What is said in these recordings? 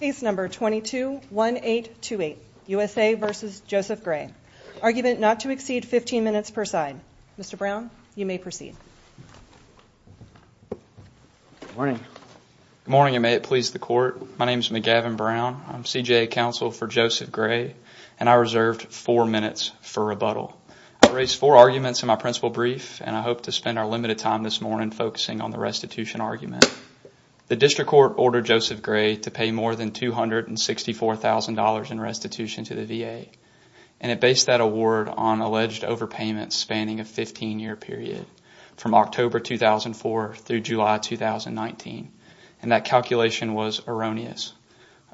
Case number 221828, USA v. Joseph Gray. Argument not to exceed 15 minutes per side. Mr. Brown, you may proceed. Good morning. Good morning and may it please the court. My name is McGavin Brown. I'm CJA counsel for Joseph Gray and I reserved four minutes for rebuttal. I've raised four arguments in my principal brief and I hope to spend our limited time this morning focusing on the restitution argument. The district court ordered Joseph Gray to pay more than $264,000 in restitution to the VA and it based that award on alleged overpayments spanning a 15-year period from October 2004 through July 2019 and that calculation was erroneous.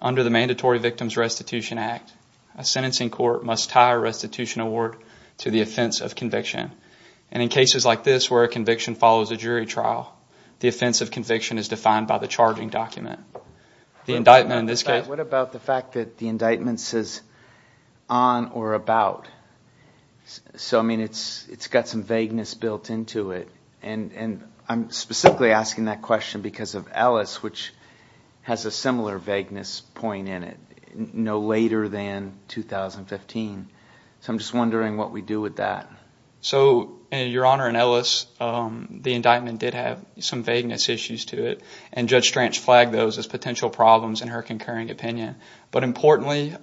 Under the Mandatory Victims Restitution Act, a sentencing court must tie a restitution award to the offense of and in cases like this where a conviction follows a jury trial, the offense of conviction is defined by the charging document. The indictment in this case... What about the fact that the indictment says on or about? So I mean it's got some vagueness built into it and I'm specifically asking that question because of Ellis which has a similar vagueness point in it, no later than 2015. So I'm just wondering what we do with that. So your honor, in Ellis the indictment did have some vagueness issues to it and Judge Stranch flagged those as potential problems in her concurring opinion but importantly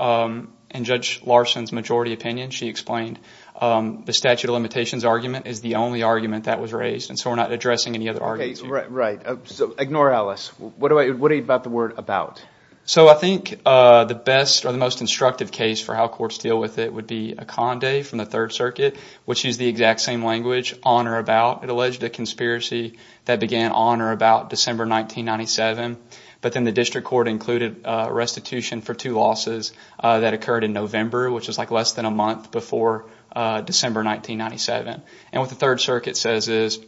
in Judge Larson's majority opinion she explained the statute of limitations argument is the only argument that was raised and so we're not addressing any other arguments. Right, right. So ignore Ellis. What about the word about? So I think the best or the most instructive case for how courts deal with it would be a Condé from the Third Circuit which used the exact same language on or about. It alleged a conspiracy that began on or about December 1997 but then the district court included a restitution for two losses that occurred in November which is like less than a month before December 1997 and what the Third Circuit says is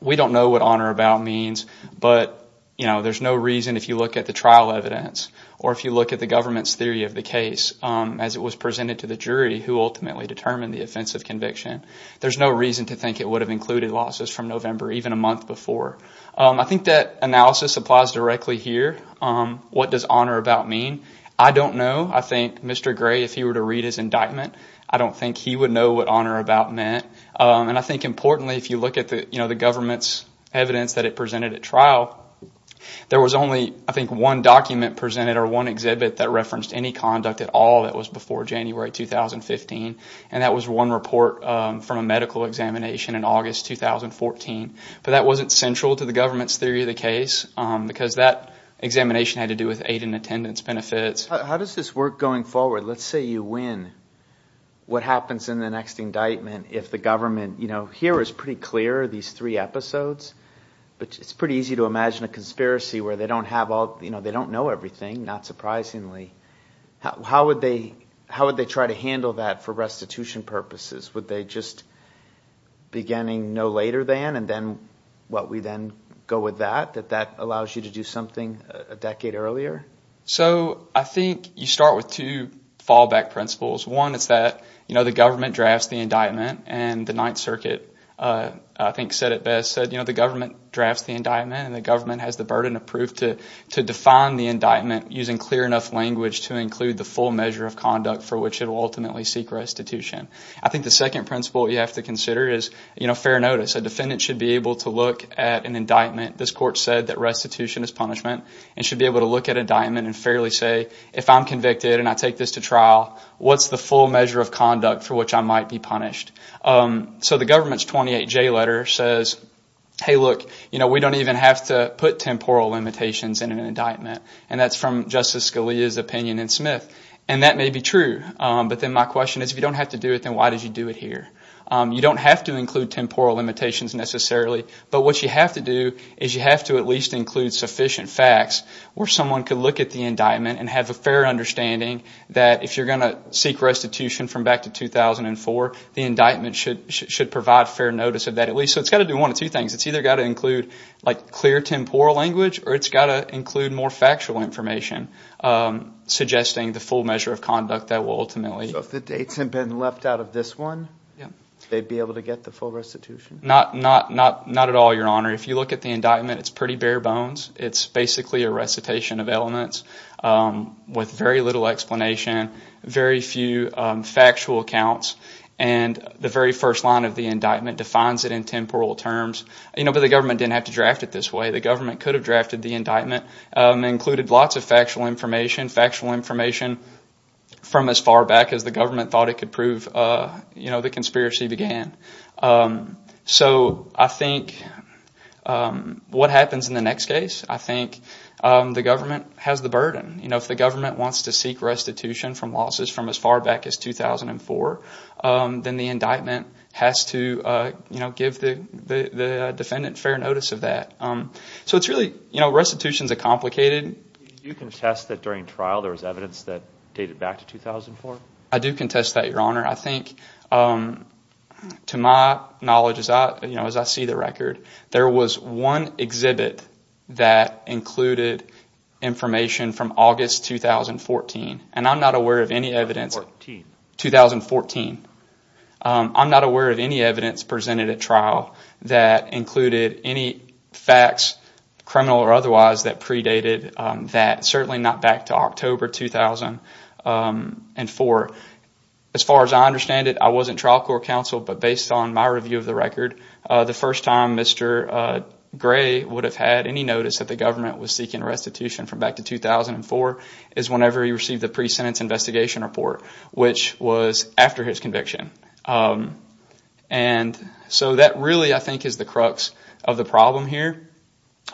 we don't know what on or about means but you know there's no if you look at the trial evidence or if you look at the government's theory of the case as it was presented to the jury who ultimately determined the offensive conviction. There's no reason to think it would have included losses from November even a month before. I think that analysis applies directly here. What does on or about mean? I don't know. I think Mr. Gray if he were to read his indictment I don't think he would know what on or about meant and I think importantly if you look at the you know the government's evidence that it presented at trial there was only I think one document presented or one exhibit that referenced any conduct at all that was before January 2015 and that was one report from a medical examination in August 2014 but that wasn't central to the government's theory of the case because that examination had to do with aid and attendance benefits. How does this work going forward? Let's say you win. What happens in the next indictment if the government you know here is pretty clear these three episodes but it's pretty easy to imagine a conspiracy where they don't have all you know they don't know everything not surprisingly. How would they how would they try to handle that for restitution purposes? Would they just beginning no later than and then what we then go with that that that allows you to do something a decade earlier? So I think you start with two fallback principles. One is that you know the government drafts the indictment and the ninth circuit I think said it best said you know the government drafts the indictment and the government has the burden of proof to to define the indictment using clear enough language to include the full measure of conduct for which it will ultimately seek restitution. I think the second principle you have to consider is you know fair notice. A defendant should be able to look at an indictment this court said that restitution is punishment and should be able to look at indictment and fairly say if I'm convicted and I take this to trial what's the full measure of conduct for which I might be punished? So the government's 28 J letter says hey look you know we don't even have to put temporal limitations in an indictment and that's from Justice Scalia's opinion in Smith and that may be true but then my question is if you don't have to do it then why did you do it here? You don't have to include temporal limitations necessarily but what you have to do is you have to at least include sufficient facts where someone could look at the indictment and have a fair understanding that if you're going to seek restitution from 2004 the indictment should provide fair notice of that at least. So it's got to do one of two things it's either got to include like clear temporal language or it's got to include more factual information suggesting the full measure of conduct that will ultimately. So if the dates have been left out of this one they'd be able to get the full restitution? Not at all your honor if you look at the indictment it's pretty bare bones it's basically a recitation of elements with very little explanation very few factual accounts and the very first line of the indictment defines it in temporal terms you know but the government didn't have to draft it this way the government could have drafted the indictment included lots of factual information factual information from as far back as the government thought it could prove you know the has the burden you know if the government wants to seek restitution from losses from as far back as 2004 then the indictment has to you know give the the defendant fair notice of that. So it's really you know restitutions are complicated. Do you contest that during trial there was evidence that dated back to 2004? I do contest that your honor I think to my knowledge as I you know as I see the record there was one exhibit that included information from August 2014 and I'm not aware of any evidence 2014. I'm not aware of any evidence presented at trial that included any facts criminal or otherwise that predated that certainly not back October 2004. As far as I understand it I wasn't trial court counsel but based on my review of the record the first time Mr. Gray would have had any notice that the government was seeking restitution from back to 2004 is whenever he received the pre-sentence investigation report which was after his conviction and so that really I think is the crux of the problem here.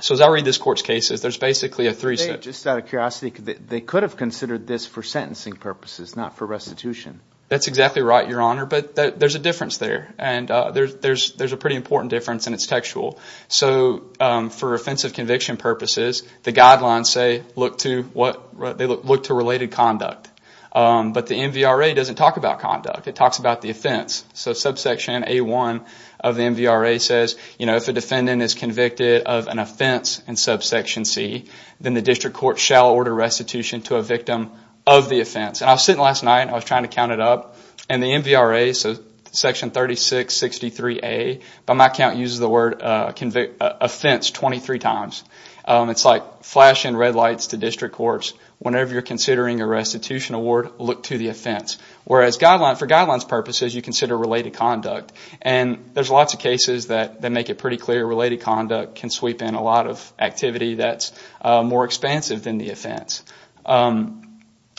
So as I read this court's there's basically a three-step. Just out of curiosity they could have considered this for sentencing purposes not for restitution. That's exactly right your honor but there's a difference there and there's a pretty important difference and it's textual. So for offensive conviction purposes the guidelines say look to what they look to related conduct but the MVRA doesn't talk about conduct it talks about the offense. So subsection a1 of the MVRA says if a defendant is convicted of an offense in subsection c then the district court shall order restitution to a victim of the offense and I was sitting last night I was trying to count it up and the MVRA so section 3663a by my count uses the word offense 23 times. It's like flashing red lights to district courts whenever you're considering a restitution award look to the offense whereas guideline for guidelines purposes you consider related conduct and there's lots of that make it pretty clear related conduct can sweep in a lot of activity that's more expansive than the offense.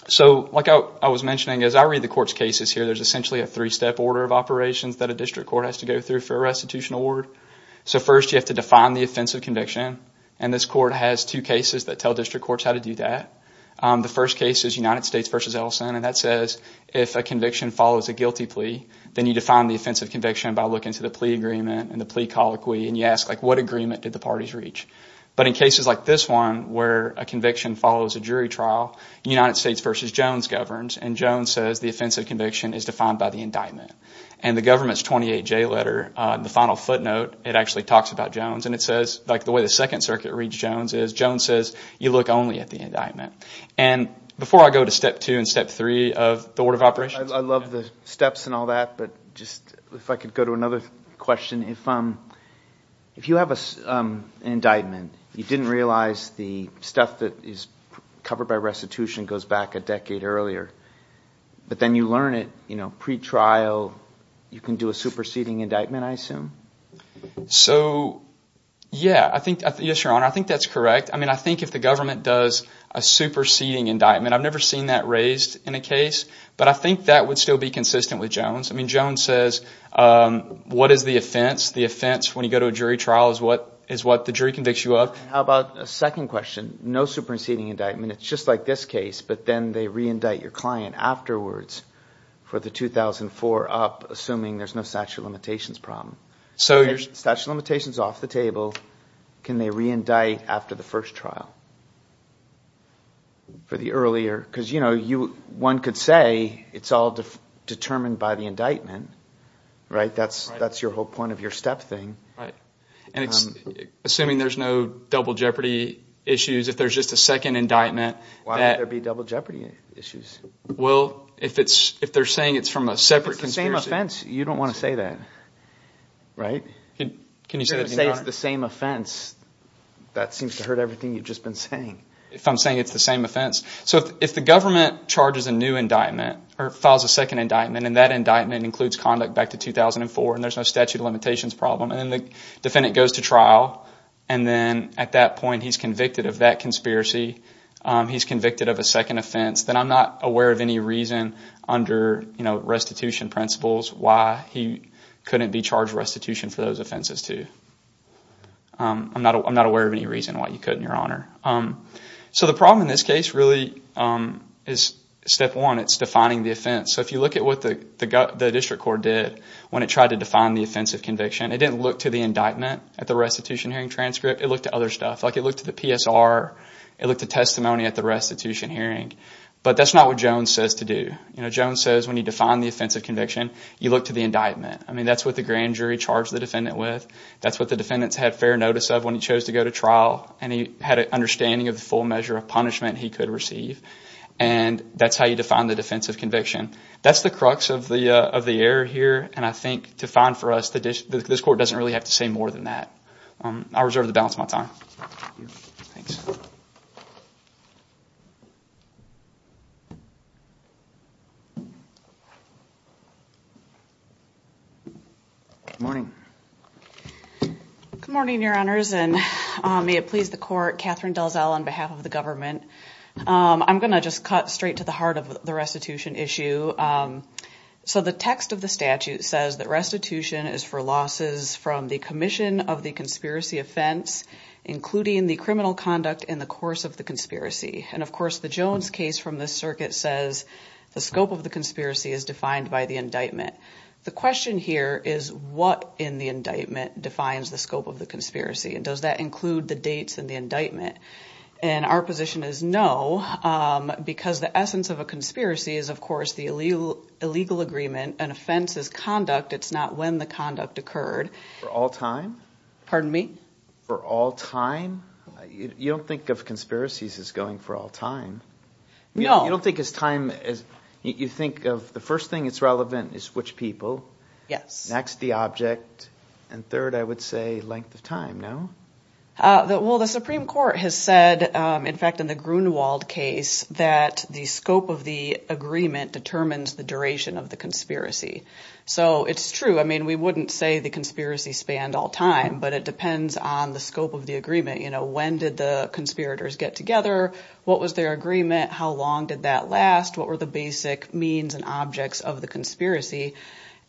So like I was mentioning as I read the court's cases here there's essentially a three-step order of operations that a district court has to go through for a restitution award. So first you have to define the offensive conviction and this court has two cases that tell district courts how to do that. The first case is United States v. Ellison and that says if a conviction follows a guilty plea then you define the offensive conviction by looking to plea agreement and the plea colloquy and you ask like what agreement did the parties reach but in cases like this one where a conviction follows a jury trial United States v. Jones governs and Jones says the offensive conviction is defined by the indictment and the government's 28j letter on the final footnote it actually talks about Jones and it says like the way the second circuit reads Jones is Jones says you look only at the indictment and before I go to step two and step three of the order of operations. I love the steps and all that but just if I could go to another question if you have an indictment you didn't realize the stuff that is covered by restitution goes back a decade earlier but then you learn it you know pre-trial you can do a superseding indictment I assume? So yeah I think yes your honor I think that's correct I mean I think if the government does a superseding indictment I've never seen that raised in a case but I think that would still be consistent with Jones I mean Jones says what is the offense the offense when you go to a jury trial is what is what the jury convicts you of. How about a second question no superseding indictment it's just like this case but then they re-indict your client afterwards for the 2004 up assuming there's no statute limitations problem so your statute limitations off the table can they re-indict after the first trial for the earlier because you know you one could say it's all determined by the indictment right that's that's your whole point of your step thing right and it's assuming there's no double jeopardy issues if there's just a second indictment why would there be double jeopardy issues well if it's if they're saying it's from a separate conspiracy offense you don't want to say that right can you say it's the same offense that seems to hurt everything you've just been saying if I'm saying it's the same offense so if the government charges a new indictment or files a second indictment and that indictment includes conduct back to 2004 and there's no statute of limitations problem and then the defendant goes to trial and then at that point he's convicted of that conspiracy he's convicted of a second offense then I'm not aware of any reason under you know restitution principles why he couldn't be charged restitution for those offenses too I'm not I'm not aware of any reason why you couldn't your honor so the problem in this case really is step one it's defining the offense so if you look at what the the district court did when it tried to define the offensive conviction it didn't look to the indictment at the restitution hearing transcript it looked at other stuff like it looked to the PSR it looked to testimony at the restitution hearing but that's not what Jones says to do you know Jones says when you define the offensive conviction you look to the indictment I mean that's what the grand jury charged the with that's what the defendants had fair notice of when he chose to go to trial and he had an understanding of the full measure of punishment he could receive and that's how you define the defensive conviction that's the crux of the uh of the error here and I think to find for us the this court doesn't really have to say more than that um I'll reserve the balance of my time thanks morning good morning your honors and may it please the court Catherine Dalzell on behalf of the government um I'm gonna just cut straight to the heart of the restitution issue um so the text of the statute says that restitution is for losses from the commission of the conspiracy offense including the criminal conduct in the course of the conspiracy and of course the Jones case from the circuit says the scope of the conspiracy is defined by the indictment the question here is what in the indictment defines the scope of the conspiracy and does that include the dates and the indictment and our position is no um because the essence of a conspiracy is of course the illegal illegal agreement an offense is conduct it's not when the conduct occurred for all time pardon me for all time you don't think of conspiracies as going for all time no you don't think it's time as you think of the first thing it's relevant is which people yes next the object and third I would say length of time no uh well the supreme court has said um in fact in the Grunewald case that the scope of the agreement determines the duration of the spanned all time but it depends on the scope of the agreement you know when did the conspirators get together what was their agreement how long did that last what were the basic means and objects of the conspiracy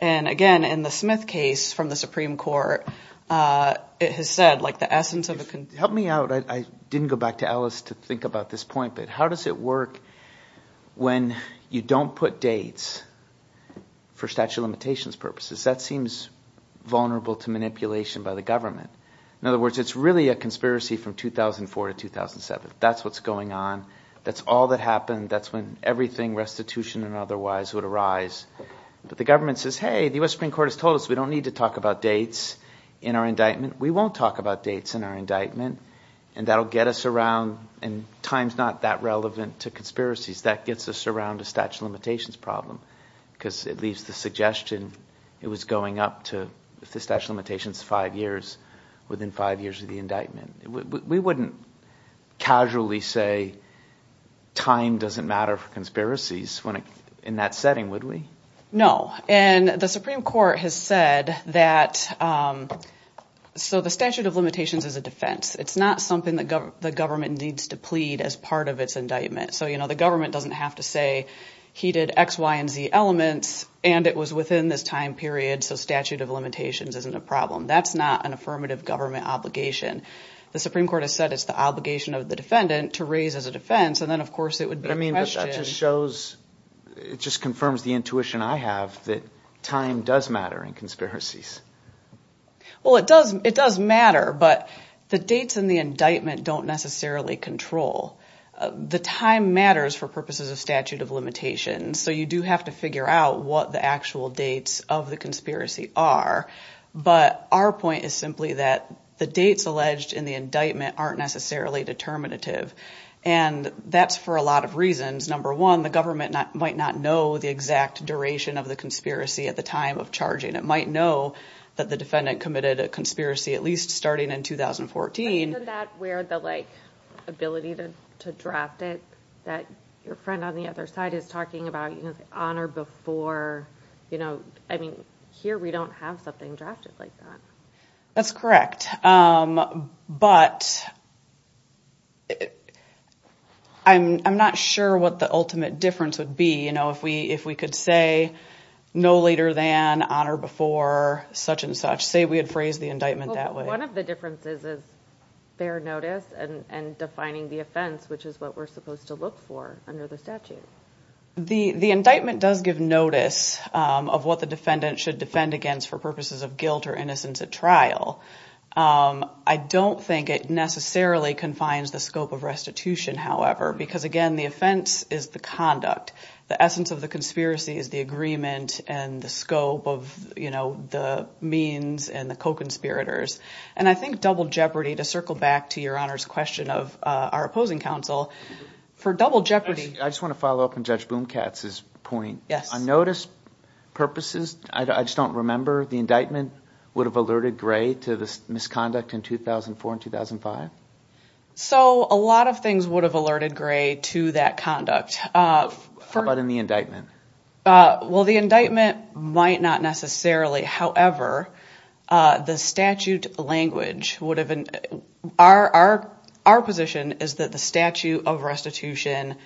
and again in the smith case from the supreme court uh it has said like the essence of it can help me out I didn't go back to alice to think about this point but how does it when you don't put dates for statute of limitations purposes that seems vulnerable to manipulation by the government in other words it's really a conspiracy from 2004 to 2007 that's what's going on that's all that happened that's when everything restitution and otherwise would arise but the government says hey the US Supreme Court has told us we don't need to talk about dates in our indictment we won't talk about dates in our indictment and that'll get us around and time's not that relevant to conspiracies that gets us around a statute of limitations problem because it leaves the suggestion it was going up to if the statute limitations five years within five years of the indictment we wouldn't casually say time doesn't matter for conspiracies when in that setting would we no and the supreme court has said that um so the statute of limitations is it's not something that the government needs to plead as part of its indictment so you know the government doesn't have to say he did x y and z elements and it was within this time period so statute of limitations isn't a problem that's not an affirmative government obligation the supreme court has said it's the obligation of the defendant to raise as a defense and then of course it would be I mean that just shows it just confirms the intuition I have that time does matter in conspiracies well it does it does matter but the dates in the indictment don't necessarily control the time matters for purposes of statute of limitations so you do have to figure out what the actual dates of the conspiracy are but our point is simply that the dates alleged in the indictment aren't necessarily determinative and that's for a lot of reasons number one the government might not know the exact duration of the conspiracy at the time of charging it might know that the defendant committed a conspiracy at least starting in 2014 that where the like ability to to draft it that your friend on the other side is talking about you know honor before you know I mean here we don't have something drafted like that that's correct um but I'm not sure what the ultimate difference would be you know if we if we could say no later than honor before such and such say we had phrased the indictment that way one of the differences is fair notice and and defining the offense which is what we're supposed to look for under the statute the the indictment does give notice of what the defendant should defend against guilt or innocence at trial um I don't think it necessarily confines the scope of restitution however because again the offense is the conduct the essence of the conspiracy is the agreement and the scope of you know the means and the co-conspirators and I think double jeopardy to circle back to your honor's question of uh our opposing counsel for double jeopardy I just want to follow up on judge boom katz's point yes on notice purposes I just don't remember the indictment would have alerted gray to this misconduct in 2004 and 2005 so a lot of things would have alerted gray to that conduct uh how about in the indictment uh well the indictment might not necessarily however uh the statute language would have been our our our position is that the statute of restitution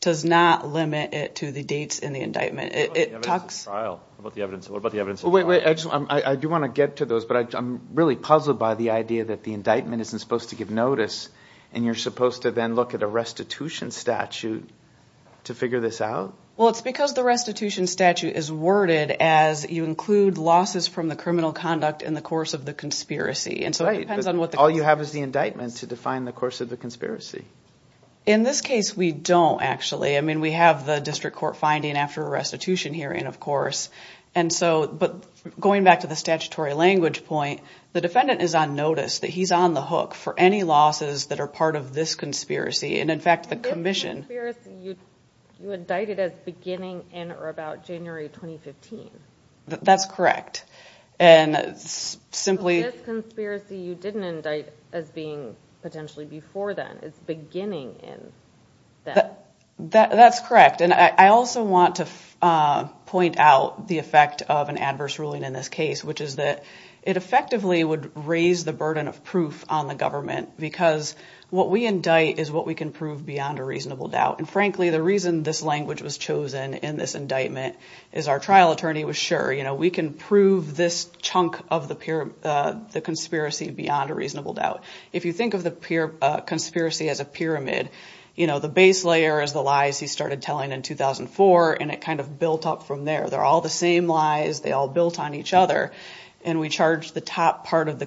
does not limit it to the dates in the indictment it talks about the evidence what about the evidence wait wait I just I do want to get to those but I'm really puzzled by the idea that the indictment isn't supposed to give notice and you're supposed to then look at a restitution statute to figure this out well it's because the restitution statute is worded as you include losses from the criminal conduct in the course of the conspiracy and so all you have is the indictment to define the course of the conspiracy in this case we don't actually I mean we have the district court finding after a restitution hearing of course and so but going back to the statutory language point the defendant is on notice that he's on the hook for any losses that are part of this conspiracy and in fact the commission you you indicted as beginning in or about January 2015 that's correct and simply this conspiracy you didn't indict as being potentially before then it's beginning in that that that's correct and I also want to uh point out the effect of an adverse ruling in this case which is that it effectively would raise the burden of proof on the government because what we indict is what we can prove beyond a reasonable doubt and frankly the reason this language was chosen in this indictment is our trial attorney was sure you know we can prove this chunk of the pure uh the conspiracy beyond a reasonable doubt if you think of the pure uh conspiracy as a pyramid you know the base layer is the lies he started telling in 2004 and it kind of built up from there they're all the same lies they all built on each other and we charge the top part of the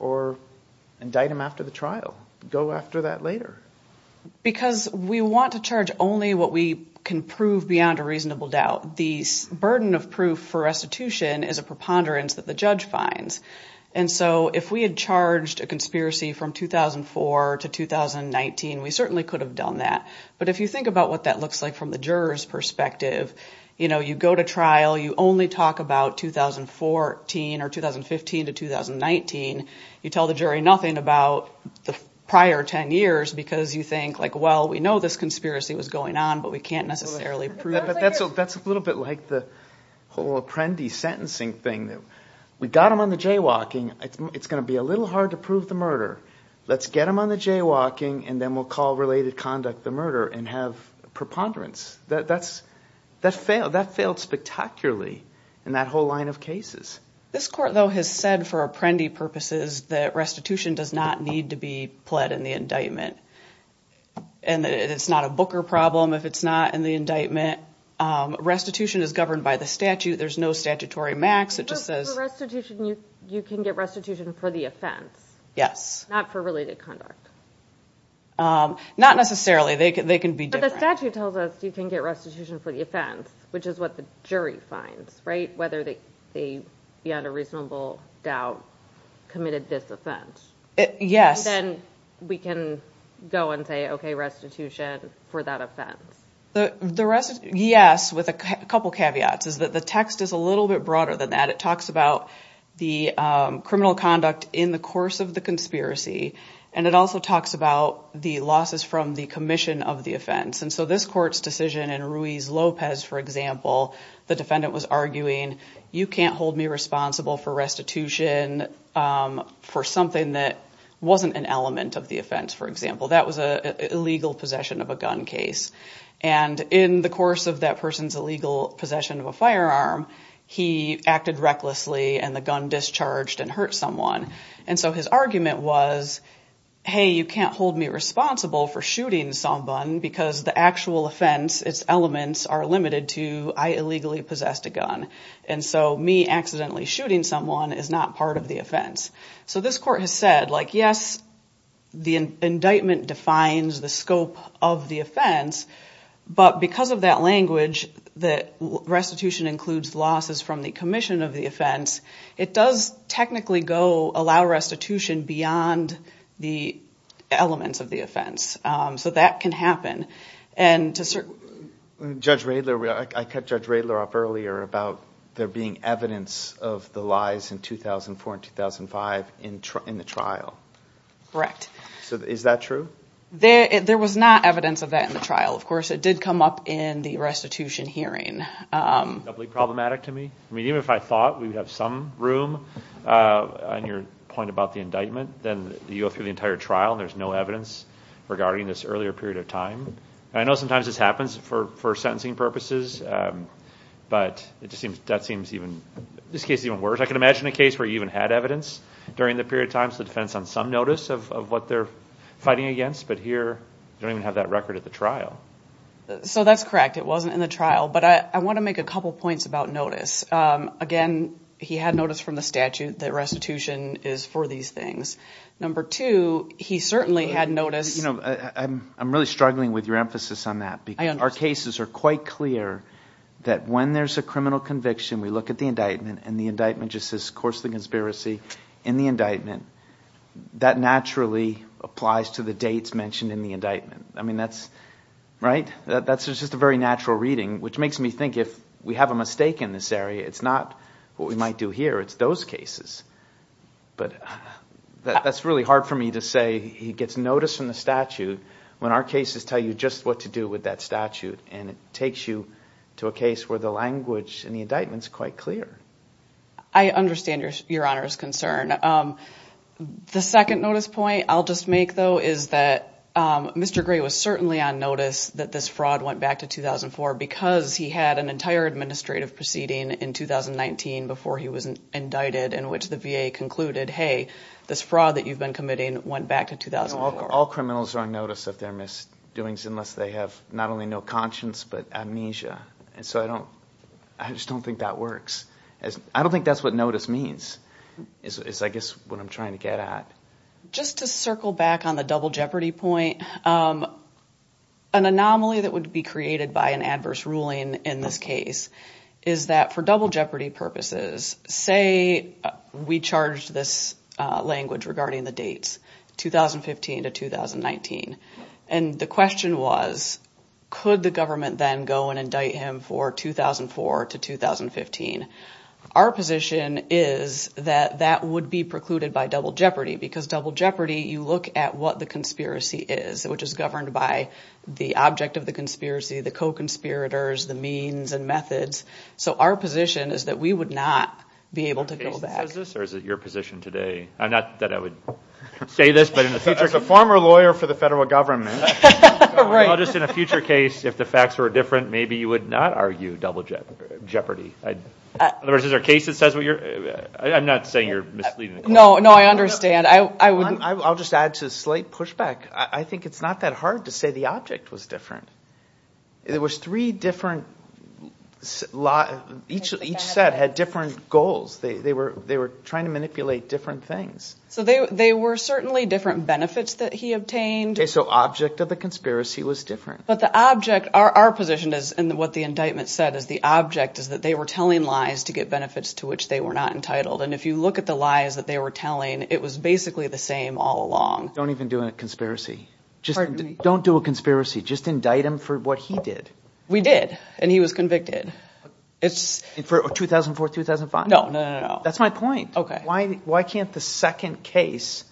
or indict him after the trial go after that later because we want to charge only what we can prove beyond a reasonable doubt the burden of proof for restitution is a preponderance that the judge finds and so if we had charged a conspiracy from 2004 to 2019 we certainly could have done that but if you think about what that looks like from the juror's perspective you know you go to trial you only talk about 2014 or 2015 to 2019 you tell the jury nothing about the prior 10 years because you think like well we know this conspiracy was going on but we can't necessarily prove it that's that's a little bit like the whole apprentice sentencing thing that we got him on the jaywalking it's going to be a little hard to prove the murder let's get him on the jaywalking and then we'll call related conduct the murder and have preponderance that that's that failed that failed spectacularly in that whole line of cases this court though has said for apprendi purposes that restitution does not need to be pled in the indictment and it's not a booker problem if it's not in the indictment restitution is governed by the statute there's no statutory max it just says restitution you can get restitution for the offense yes not for related conduct um not necessarily they can they can be different the statute tells us you can get restitution for the offense which is what the jury finds right whether they they beyond a reasonable doubt committed this offense yes then we can go and say okay restitution for that offense the the rest yes with a couple caveats is that the is a little bit broader than that it talks about the criminal conduct in the course of the conspiracy and it also talks about the losses from the commission of the offense and so this court's decision in ruiz lopez for example the defendant was arguing you can't hold me responsible for restitution um for something that wasn't an element of the offense for example that was a illegal possession of a gun case and in the course of that person's illegal possession of a firearm he acted recklessly and the gun discharged and hurt someone and so his argument was hey you can't hold me responsible for shooting someone because the actual offense its elements are limited to i illegally possessed a gun and so me accidentally shooting someone is not part of the scope of the offense but because of that language that restitution includes losses from the commission of the offense it does technically go allow restitution beyond the elements of the offense um so that can happen and to certain judge rayler i cut judge rayler up earlier about there being evidence of the lies in 2004 and 2005 in the trial correct so is that true there there was not evidence of that in the trial of course it did come up in the restitution hearing um doubly problematic to me i mean even if i thought we would have some room uh on your point about the indictment then you go through the entire trial there's no evidence regarding this earlier period of time i know sometimes this happens for for sentencing purposes um but it just seems that seems even this case is even worse i can imagine a case where you even had evidence during the period of times the defense on some notice of what they're fighting against but here you don't even have that record at the trial so that's correct it wasn't in the trial but i i want to make a couple points about notice um again he had notice from the statute that restitution is for these things number two he certainly had notice you know i'm really struggling with your emphasis on that because our cases are quite clear that when there's a criminal conviction we look at the indictment and the indictment just says of course the conspiracy in the indictment that naturally applies to the dates mentioned in the indictment i mean that's right that that's just a very natural reading which makes me think if we have a mistake in this area it's not what we might do here it's those cases but that's really hard for me to say he gets notice from the statute when our cases tell you just what to do with that statute and it takes you to a case where the language and the indictment is quite clear i understand your your honor's concern um the second notice point i'll just make though is that um mr gray was certainly on notice that this fraud went back to 2004 because he had an entire administrative proceeding in 2019 before he was indicted in which the va concluded hey this fraud that you've been committing went back to 2004 all criminals are on notice of their misdoings unless they have not only no conscience but amnesia and so i don't i just don't think that works as i don't think that's what notice means is i guess what i'm trying to get at just to circle back on the double jeopardy point um an anomaly that would be created by an adverse ruling in this case is that for double jeopardy purposes say we charged this uh language regarding the dates 2015 to 2019 and the question was could the government then go and indict him for 2004 to 2015 our position is that that would be precluded by double jeopardy because double jeopardy you look at what the conspiracy is which is governed by the object of the conspiracy the co-conspirators the means and methods so our position is that we would not be able to go back is this or is it your position today i'm not that i would say this but in the future as a former lawyer for the federal government right now just in a future case if the facts were different maybe you would not argue double jeopardy jeopardy otherwise is there a case that says what you're i'm not saying you're misleading no no i understand i i wouldn't i'll just add to the slight pushback i think it's not that hard to say the object was different there was three different law each each set had different goals they they were they were trying to manipulate different things so they they were certainly different benefits that he obtained okay so object of the conspiracy was different but the object our our position is and what the indictment said is the object is that they were telling lies to get benefits to which they were not entitled and if you look at the lies that they were telling it was basically the same all along don't even do a conspiracy just don't do a conspiracy just indict him for what he did we did and he was convicted it's for 2004 2005 no no no that's my point okay why why can't the second case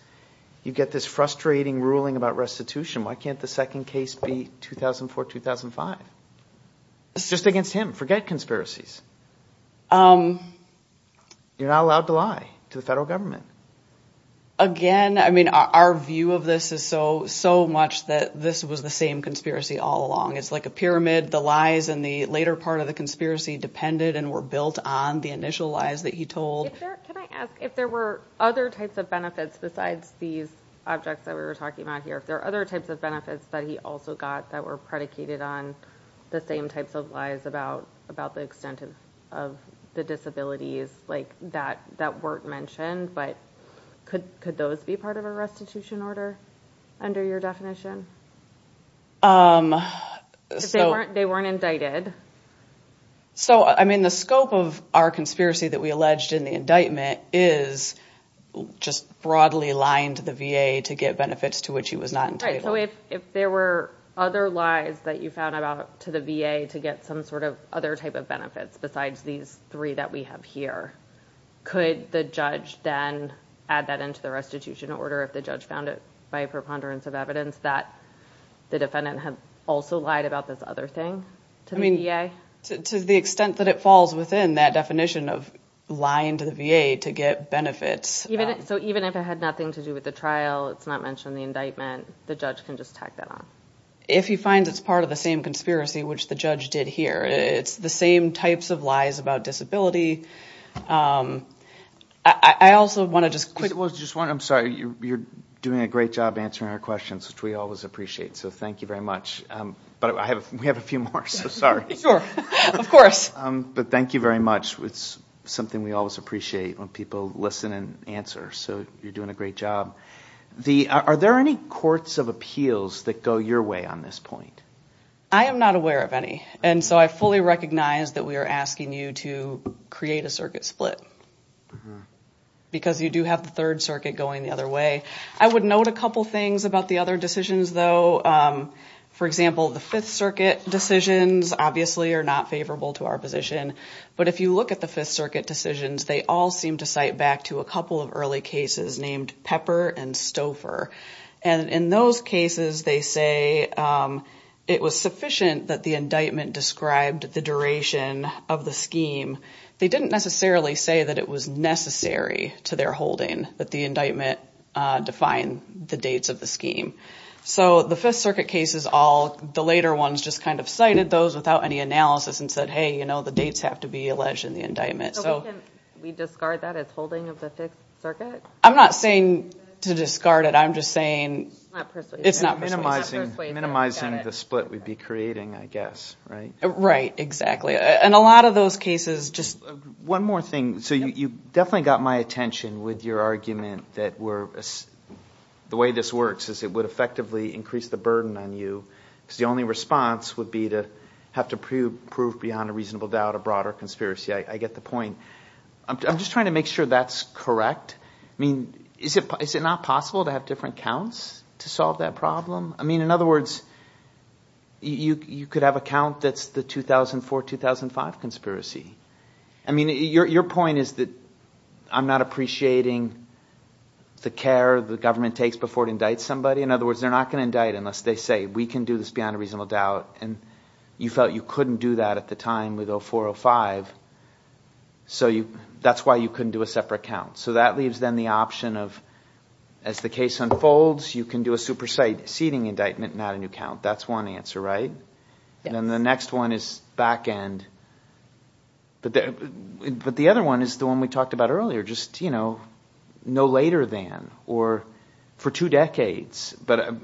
you get this frustrating ruling about restitution why can't the second case be 2004 2005 it's just against him forget conspiracies um you're not allowed to lie to the federal government again i mean our view of this is so so much that this was the same conspiracy all along it's like a pyramid the lies and the later part of the conspiracy depended and were built on the initial lies that he told can i ask if there were other types of benefits besides these objects that we were talking about here if there are other types of benefits that he also got that were predicated on the same types of lies about about the extent of of the disabilities like that that weren't mentioned but could could those be part of a i mean the scope of our conspiracy that we alleged in the indictment is just broadly lying to the va to get benefits to which he was not entitled so if if there were other lies that you found about to the va to get some sort of other type of benefits besides these three that we have here could the judge then add that into the restitution order if the judge found it by a preponderance of evidence that the defendant had also lied about this other thing to me yeah to the extent that it falls within that definition of lying to the va to get benefits even so even if it had nothing to do with the trial it's not mentioned in the indictment the judge can just tack that on if he finds it's part of the same conspiracy which the judge did here it's the same types of lies about disability um i i also want to just quick well just one i'm sorry you're doing a great job answering our questions which we always appreciate so thank very much um but i have we have a few more so sorry sure of course um but thank you very much it's something we always appreciate when people listen and answer so you're doing a great job the are there any courts of appeals that go your way on this point i am not aware of any and so i fully recognize that we are asking you to create a circuit split because you do have the third circuit going the other way i would note a couple things about the other decisions though for example the fifth circuit decisions obviously are not favorable to our position but if you look at the fifth circuit decisions they all seem to cite back to a couple of early cases named pepper and stouffer and in those cases they say it was sufficient that the indictment described the duration of the scheme they didn't necessarily say that it was necessary to their that the indictment uh define the dates of the scheme so the fifth circuit case is all the later ones just kind of cited those without any analysis and said hey you know the dates have to be alleged in the indictment so we discard that as holding of the fifth circuit i'm not saying to discard it i'm just saying it's not minimizing minimizing the split we'd be creating i guess right right exactly and a lot of those cases just one more thing so you definitely got my attention with your argument that we're the way this works is it would effectively increase the burden on you because the only response would be to have to prove beyond a reasonable doubt a broader conspiracy i get the point i'm just trying to make sure that's correct i mean is it is it not possible to have different counts to solve that problem i mean in other words you you could have that's the 2004 2005 conspiracy i mean your point is that i'm not appreciating the care the government takes before it indicts somebody in other words they're not going to indict unless they say we can do this beyond a reasonable doubt and you felt you couldn't do that at the time with 0405 so you that's why you couldn't do a separate count so that leaves then the option of as the case unfolds you can do a supersede seating indictment not a new count that's one answer right then the next one is back end but the but the other one is the one we talked about earlier just you know no later than or for two decades but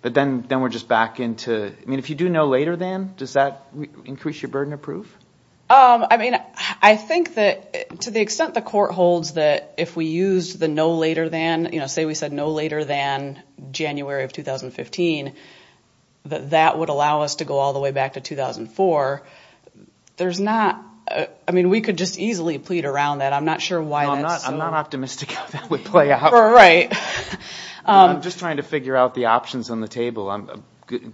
but then then we're just back into i mean if you do no later than does that increase your burden of proof um i mean i think that to the extent the court holds that if we used the no later than you know say we said no later than january of 2015 that that would allow us to go all the way back to 2004 there's not i mean we could just easily plead around that i'm not sure why i'm not i'm not optimistic how that would play out right i'm just trying to figure out the options on the table i'm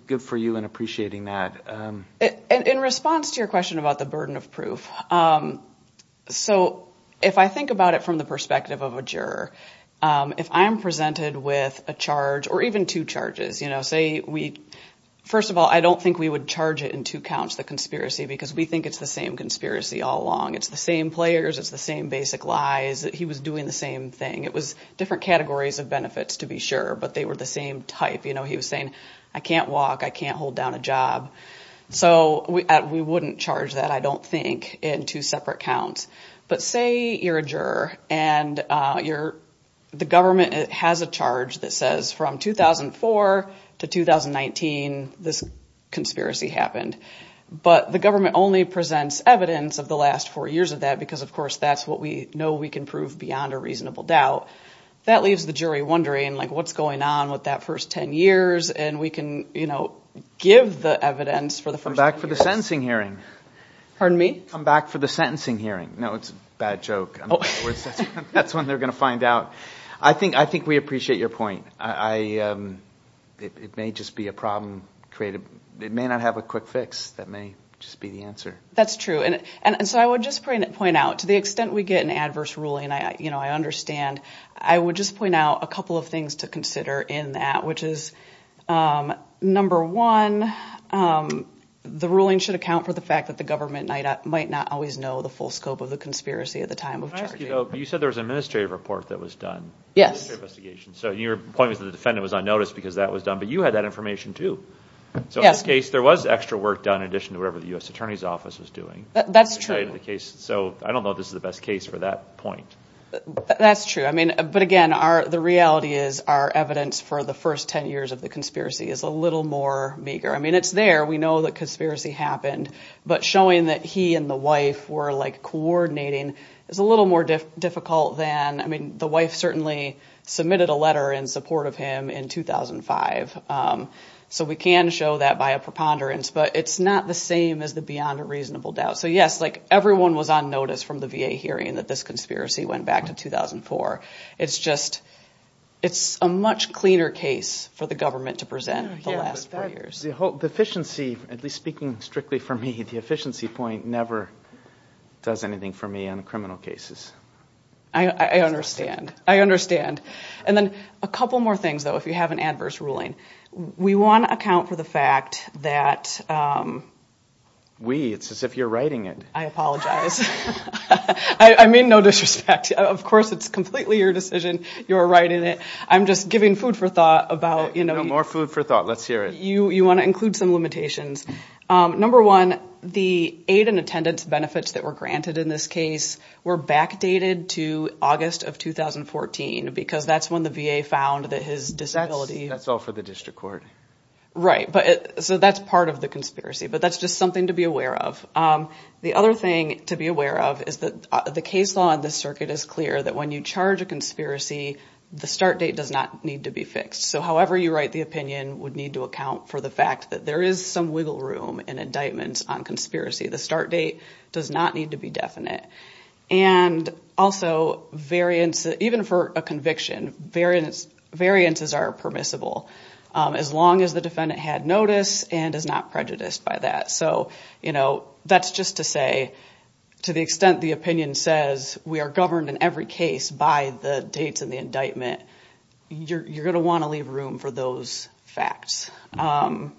good for you and appreciating that um in response to your question about the burden of proof um so if i think about it from the perspective of a juror if i'm presented with a charge or even two charges you know say we first of all i don't think we would charge it in two counts the conspiracy because we think it's the same conspiracy all along it's the same players it's the same basic lies he was doing the same thing it was different categories of benefits to be sure but they were the same type you know he was saying i can't walk i can't hold down a job so we wouldn't charge that i don't think in two separate counts but say you're a juror and uh you're the government has a charge that says from 2004 to 2019 this conspiracy happened but the government only presents evidence of the last four years of that because of course that's what we know we can prove beyond a reasonable doubt that leaves the jury wondering like what's going on with that first 10 years and we can you know give the evidence for the first back for the sentencing hearing pardon me come back for the sentencing hearing no it's a bad joke that's when they're going to find out i think i think we appreciate your point i um it may just be a problem created it may not have a quick fix that may just be the answer that's true and and so i would just point out to the extent we get an adverse ruling i you know i understand i would just point out a couple of things to consider in that which is um number one um the ruling should account for the fact that the government might not always know the full scope of the conspiracy at the time of you said there was an administrative report that was done yes investigation so your point was the defendant was on notice because that was done but you had that information too so in this case there was extra work done in addition to whatever the u.s attorney's office was doing that's true in the case so i don't know this is the best case for that point that's true i mean but again our the reality is our evidence for the first 10 years of the conspiracy is a little more meager i mean it's there we know the conspiracy happened but showing that he and the wife were like coordinating is a little more difficult than i mean the wife certainly submitted a letter in support of him in 2005 um so we can show that by a preponderance but it's not the same as the beyond a reasonable doubt so yes like everyone was on notice from the va hearing that this conspiracy went back to 2004 it's just it's a much cleaner case for the government to present the last four years the whole deficiency at least speaking strictly for me the efficiency point never does anything for me on criminal cases i i understand i understand and then a couple more things though if you have an adverse ruling we want to account for the fact that um we it's as if you're writing it i apologize i i mean no disrespect of course it's completely your decision you're writing it i'm just giving food for thought about you know more food for thought let's hear it you you want to include some limitations um number one the aid and attendance benefits that were granted in this case were backdated to august of 2014 because that's when the va found that his disability that's all for the district court right but so that's part of the conspiracy but that's just something to be aware of is that the case law in this circuit is clear that when you charge a conspiracy the start date does not need to be fixed so however you write the opinion would need to account for the fact that there is some wiggle room and indictments on conspiracy the start date does not need to be definite and also variance even for a conviction variance variances are permissible as long as the defendant had notice and is not prejudiced by that so you know that's to say to the extent the opinion says we are governed in every case by the dates and the indictment you're you're going to want to leave room for those facts um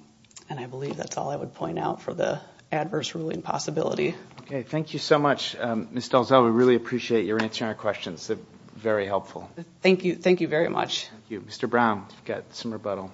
and i believe that's all i would point out for the adverse ruling possibility okay thank you so much um miss delzel we really appreciate your answering our questions they're very helpful thank you thank you very much thank you mr brown got some rebuttal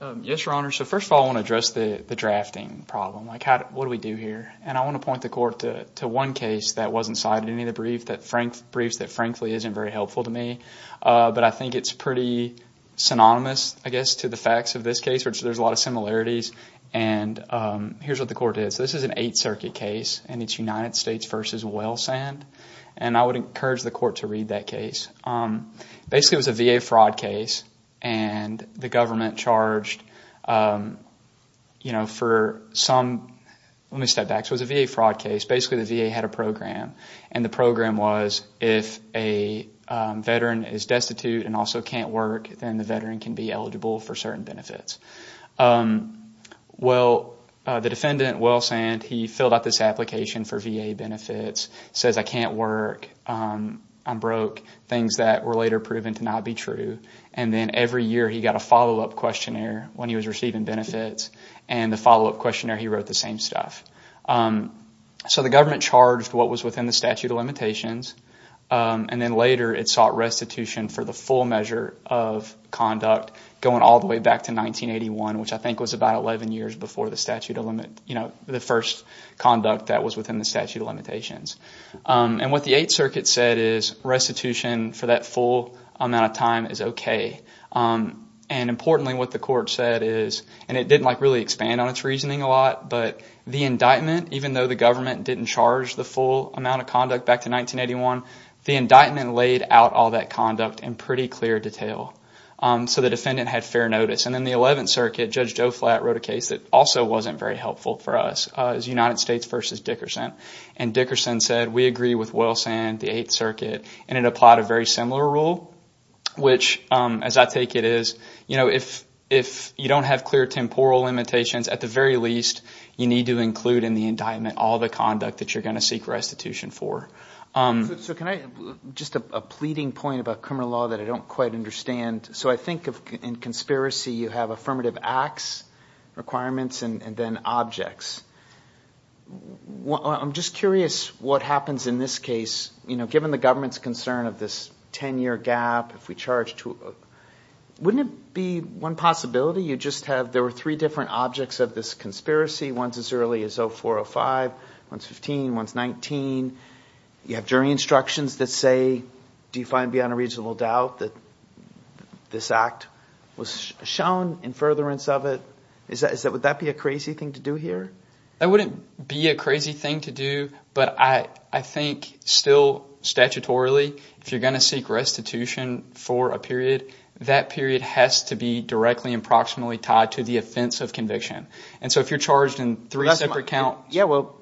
um yes your honor so first of all i want to address the drafting problem like how what do we do here and i want to point the court to one case that wasn't cited any of the brief that frank briefs that frankly isn't very helpful to me uh but i think it's pretty synonymous i guess to the facts of this case which there's a lot of similarities and um here's what the court is this is an eight circuit case and it's united states versus wellsand and i would encourage the court to read that case um basically it was a va fraud case and the government charged um you know for some let me step back so it's a va fraud case basically the va had a program and the program was if a veteran is destitute and also can't work then the veteran can be eligible for certain benefits um well the defendant wellsand he filled out this application for va benefits says i can't work um i'm broke things that were later proven to not be true and then every year he got a follow-up questionnaire when he was receiving benefits and the follow-up questionnaire he wrote the same stuff um so the government charged what was within the statute of limitations um and then later it sought restitution for the full measure of conduct going all the way back to 1981 which i think was about 11 years before the statute of limit you know the first conduct that was within the statute of limitations um and what the eighth circuit said restitution for that full amount of time is okay um and importantly what the court said is and it didn't like really expand on its reasoning a lot but the indictment even though the government didn't charge the full amount of conduct back to 1981 the indictment laid out all that conduct in pretty clear detail um so the defendant had fair notice and then the 11th circuit judge joe flat wrote a case that also wasn't very helpful for us as united states versus dickerson and dickerson said we agree with wilson the eighth circuit and it applied a very similar rule which um as i take it is you know if if you don't have clear temporal limitations at the very least you need to include in the indictment all the conduct that you're going to seek restitution for um so can i just a pleading point about criminal law that i don't quite understand so i think of in conspiracy you have affirmative acts requirements and then objects well i'm just curious what happens in this case you know given the government's concern of this 10-year gap if we charge to wouldn't it be one possibility you just have there were three different objects of this conspiracy once as early as 0405 once 15 once 19 you have jury instructions that say do you find beyond a doubt that this act was shown in furtherance of it is that is that would that be a crazy thing to do here that wouldn't be a crazy thing to do but i i think still statutorily if you're going to seek restitution for a period that period has to be directly approximately tied to the offense of conviction and so if you're charged in three separate counts yeah well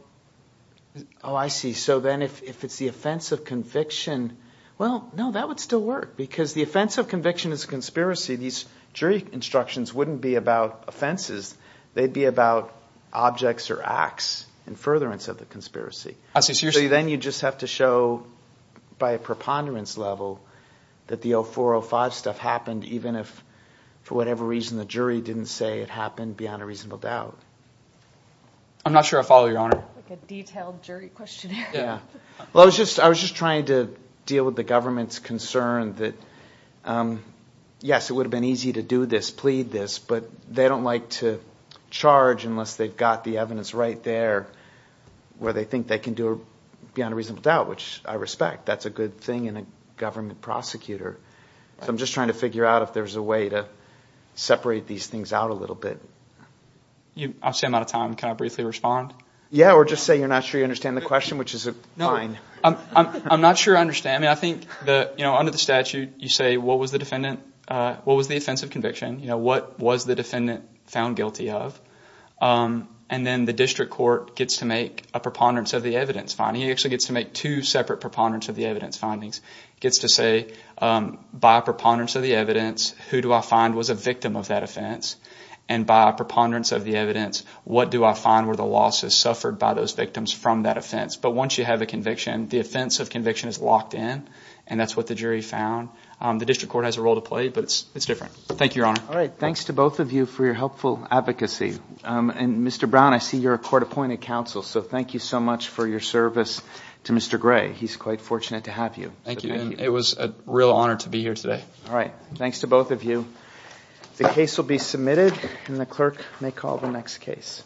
oh i see so then if it's the offense of conviction well no that would still work because the offense of conviction is a conspiracy these jury instructions wouldn't be about offenses they'd be about objects or acts and furtherance of the conspiracy so then you just have to show by a preponderance level that the 0405 stuff happened even if for whatever reason the jury didn't say it happened beyond a reasonable doubt i'm not sure i follow your honor like a detailed jury questionnaire yeah well i was just i was just trying to deal with the government's concern that um yes it would have been easy to do this plead this but they don't like to charge unless they've got the evidence right there where they think they can do a beyond a reasonable doubt which i respect that's a good thing in a government prosecutor so i'm just trying to figure out if there's a way to separate these things out a little bit you i'm saying out of time can i briefly respond yeah or just say you're not sure you understand the question which is a no i'm i'm i'm not sure i understand i mean i think the you know under the statute you say what was the defendant uh what was the offense of conviction you know what was the defendant found guilty of um and then the district court gets to make a preponderance of the evidence finding it actually gets to make two separate preponderance of the evidence findings gets to say um by a preponderance of the evidence who do i find was a victim of that offense and by a preponderance of the evidence what do i find where the loss is suffered by those victims from that offense but once you have a conviction the offense of conviction is locked in and that's what the jury found um the district court has a role to play but it's it's different thank you your honor all right thanks to both of you for your helpful advocacy um and mr brown i see you're a court appointed counsel so thank you so much for your service to mr gray he's quite fortunate to have you thank you it was a real honor to be here today all right thanks to both of you the case will be submitted and the clerk may call the next case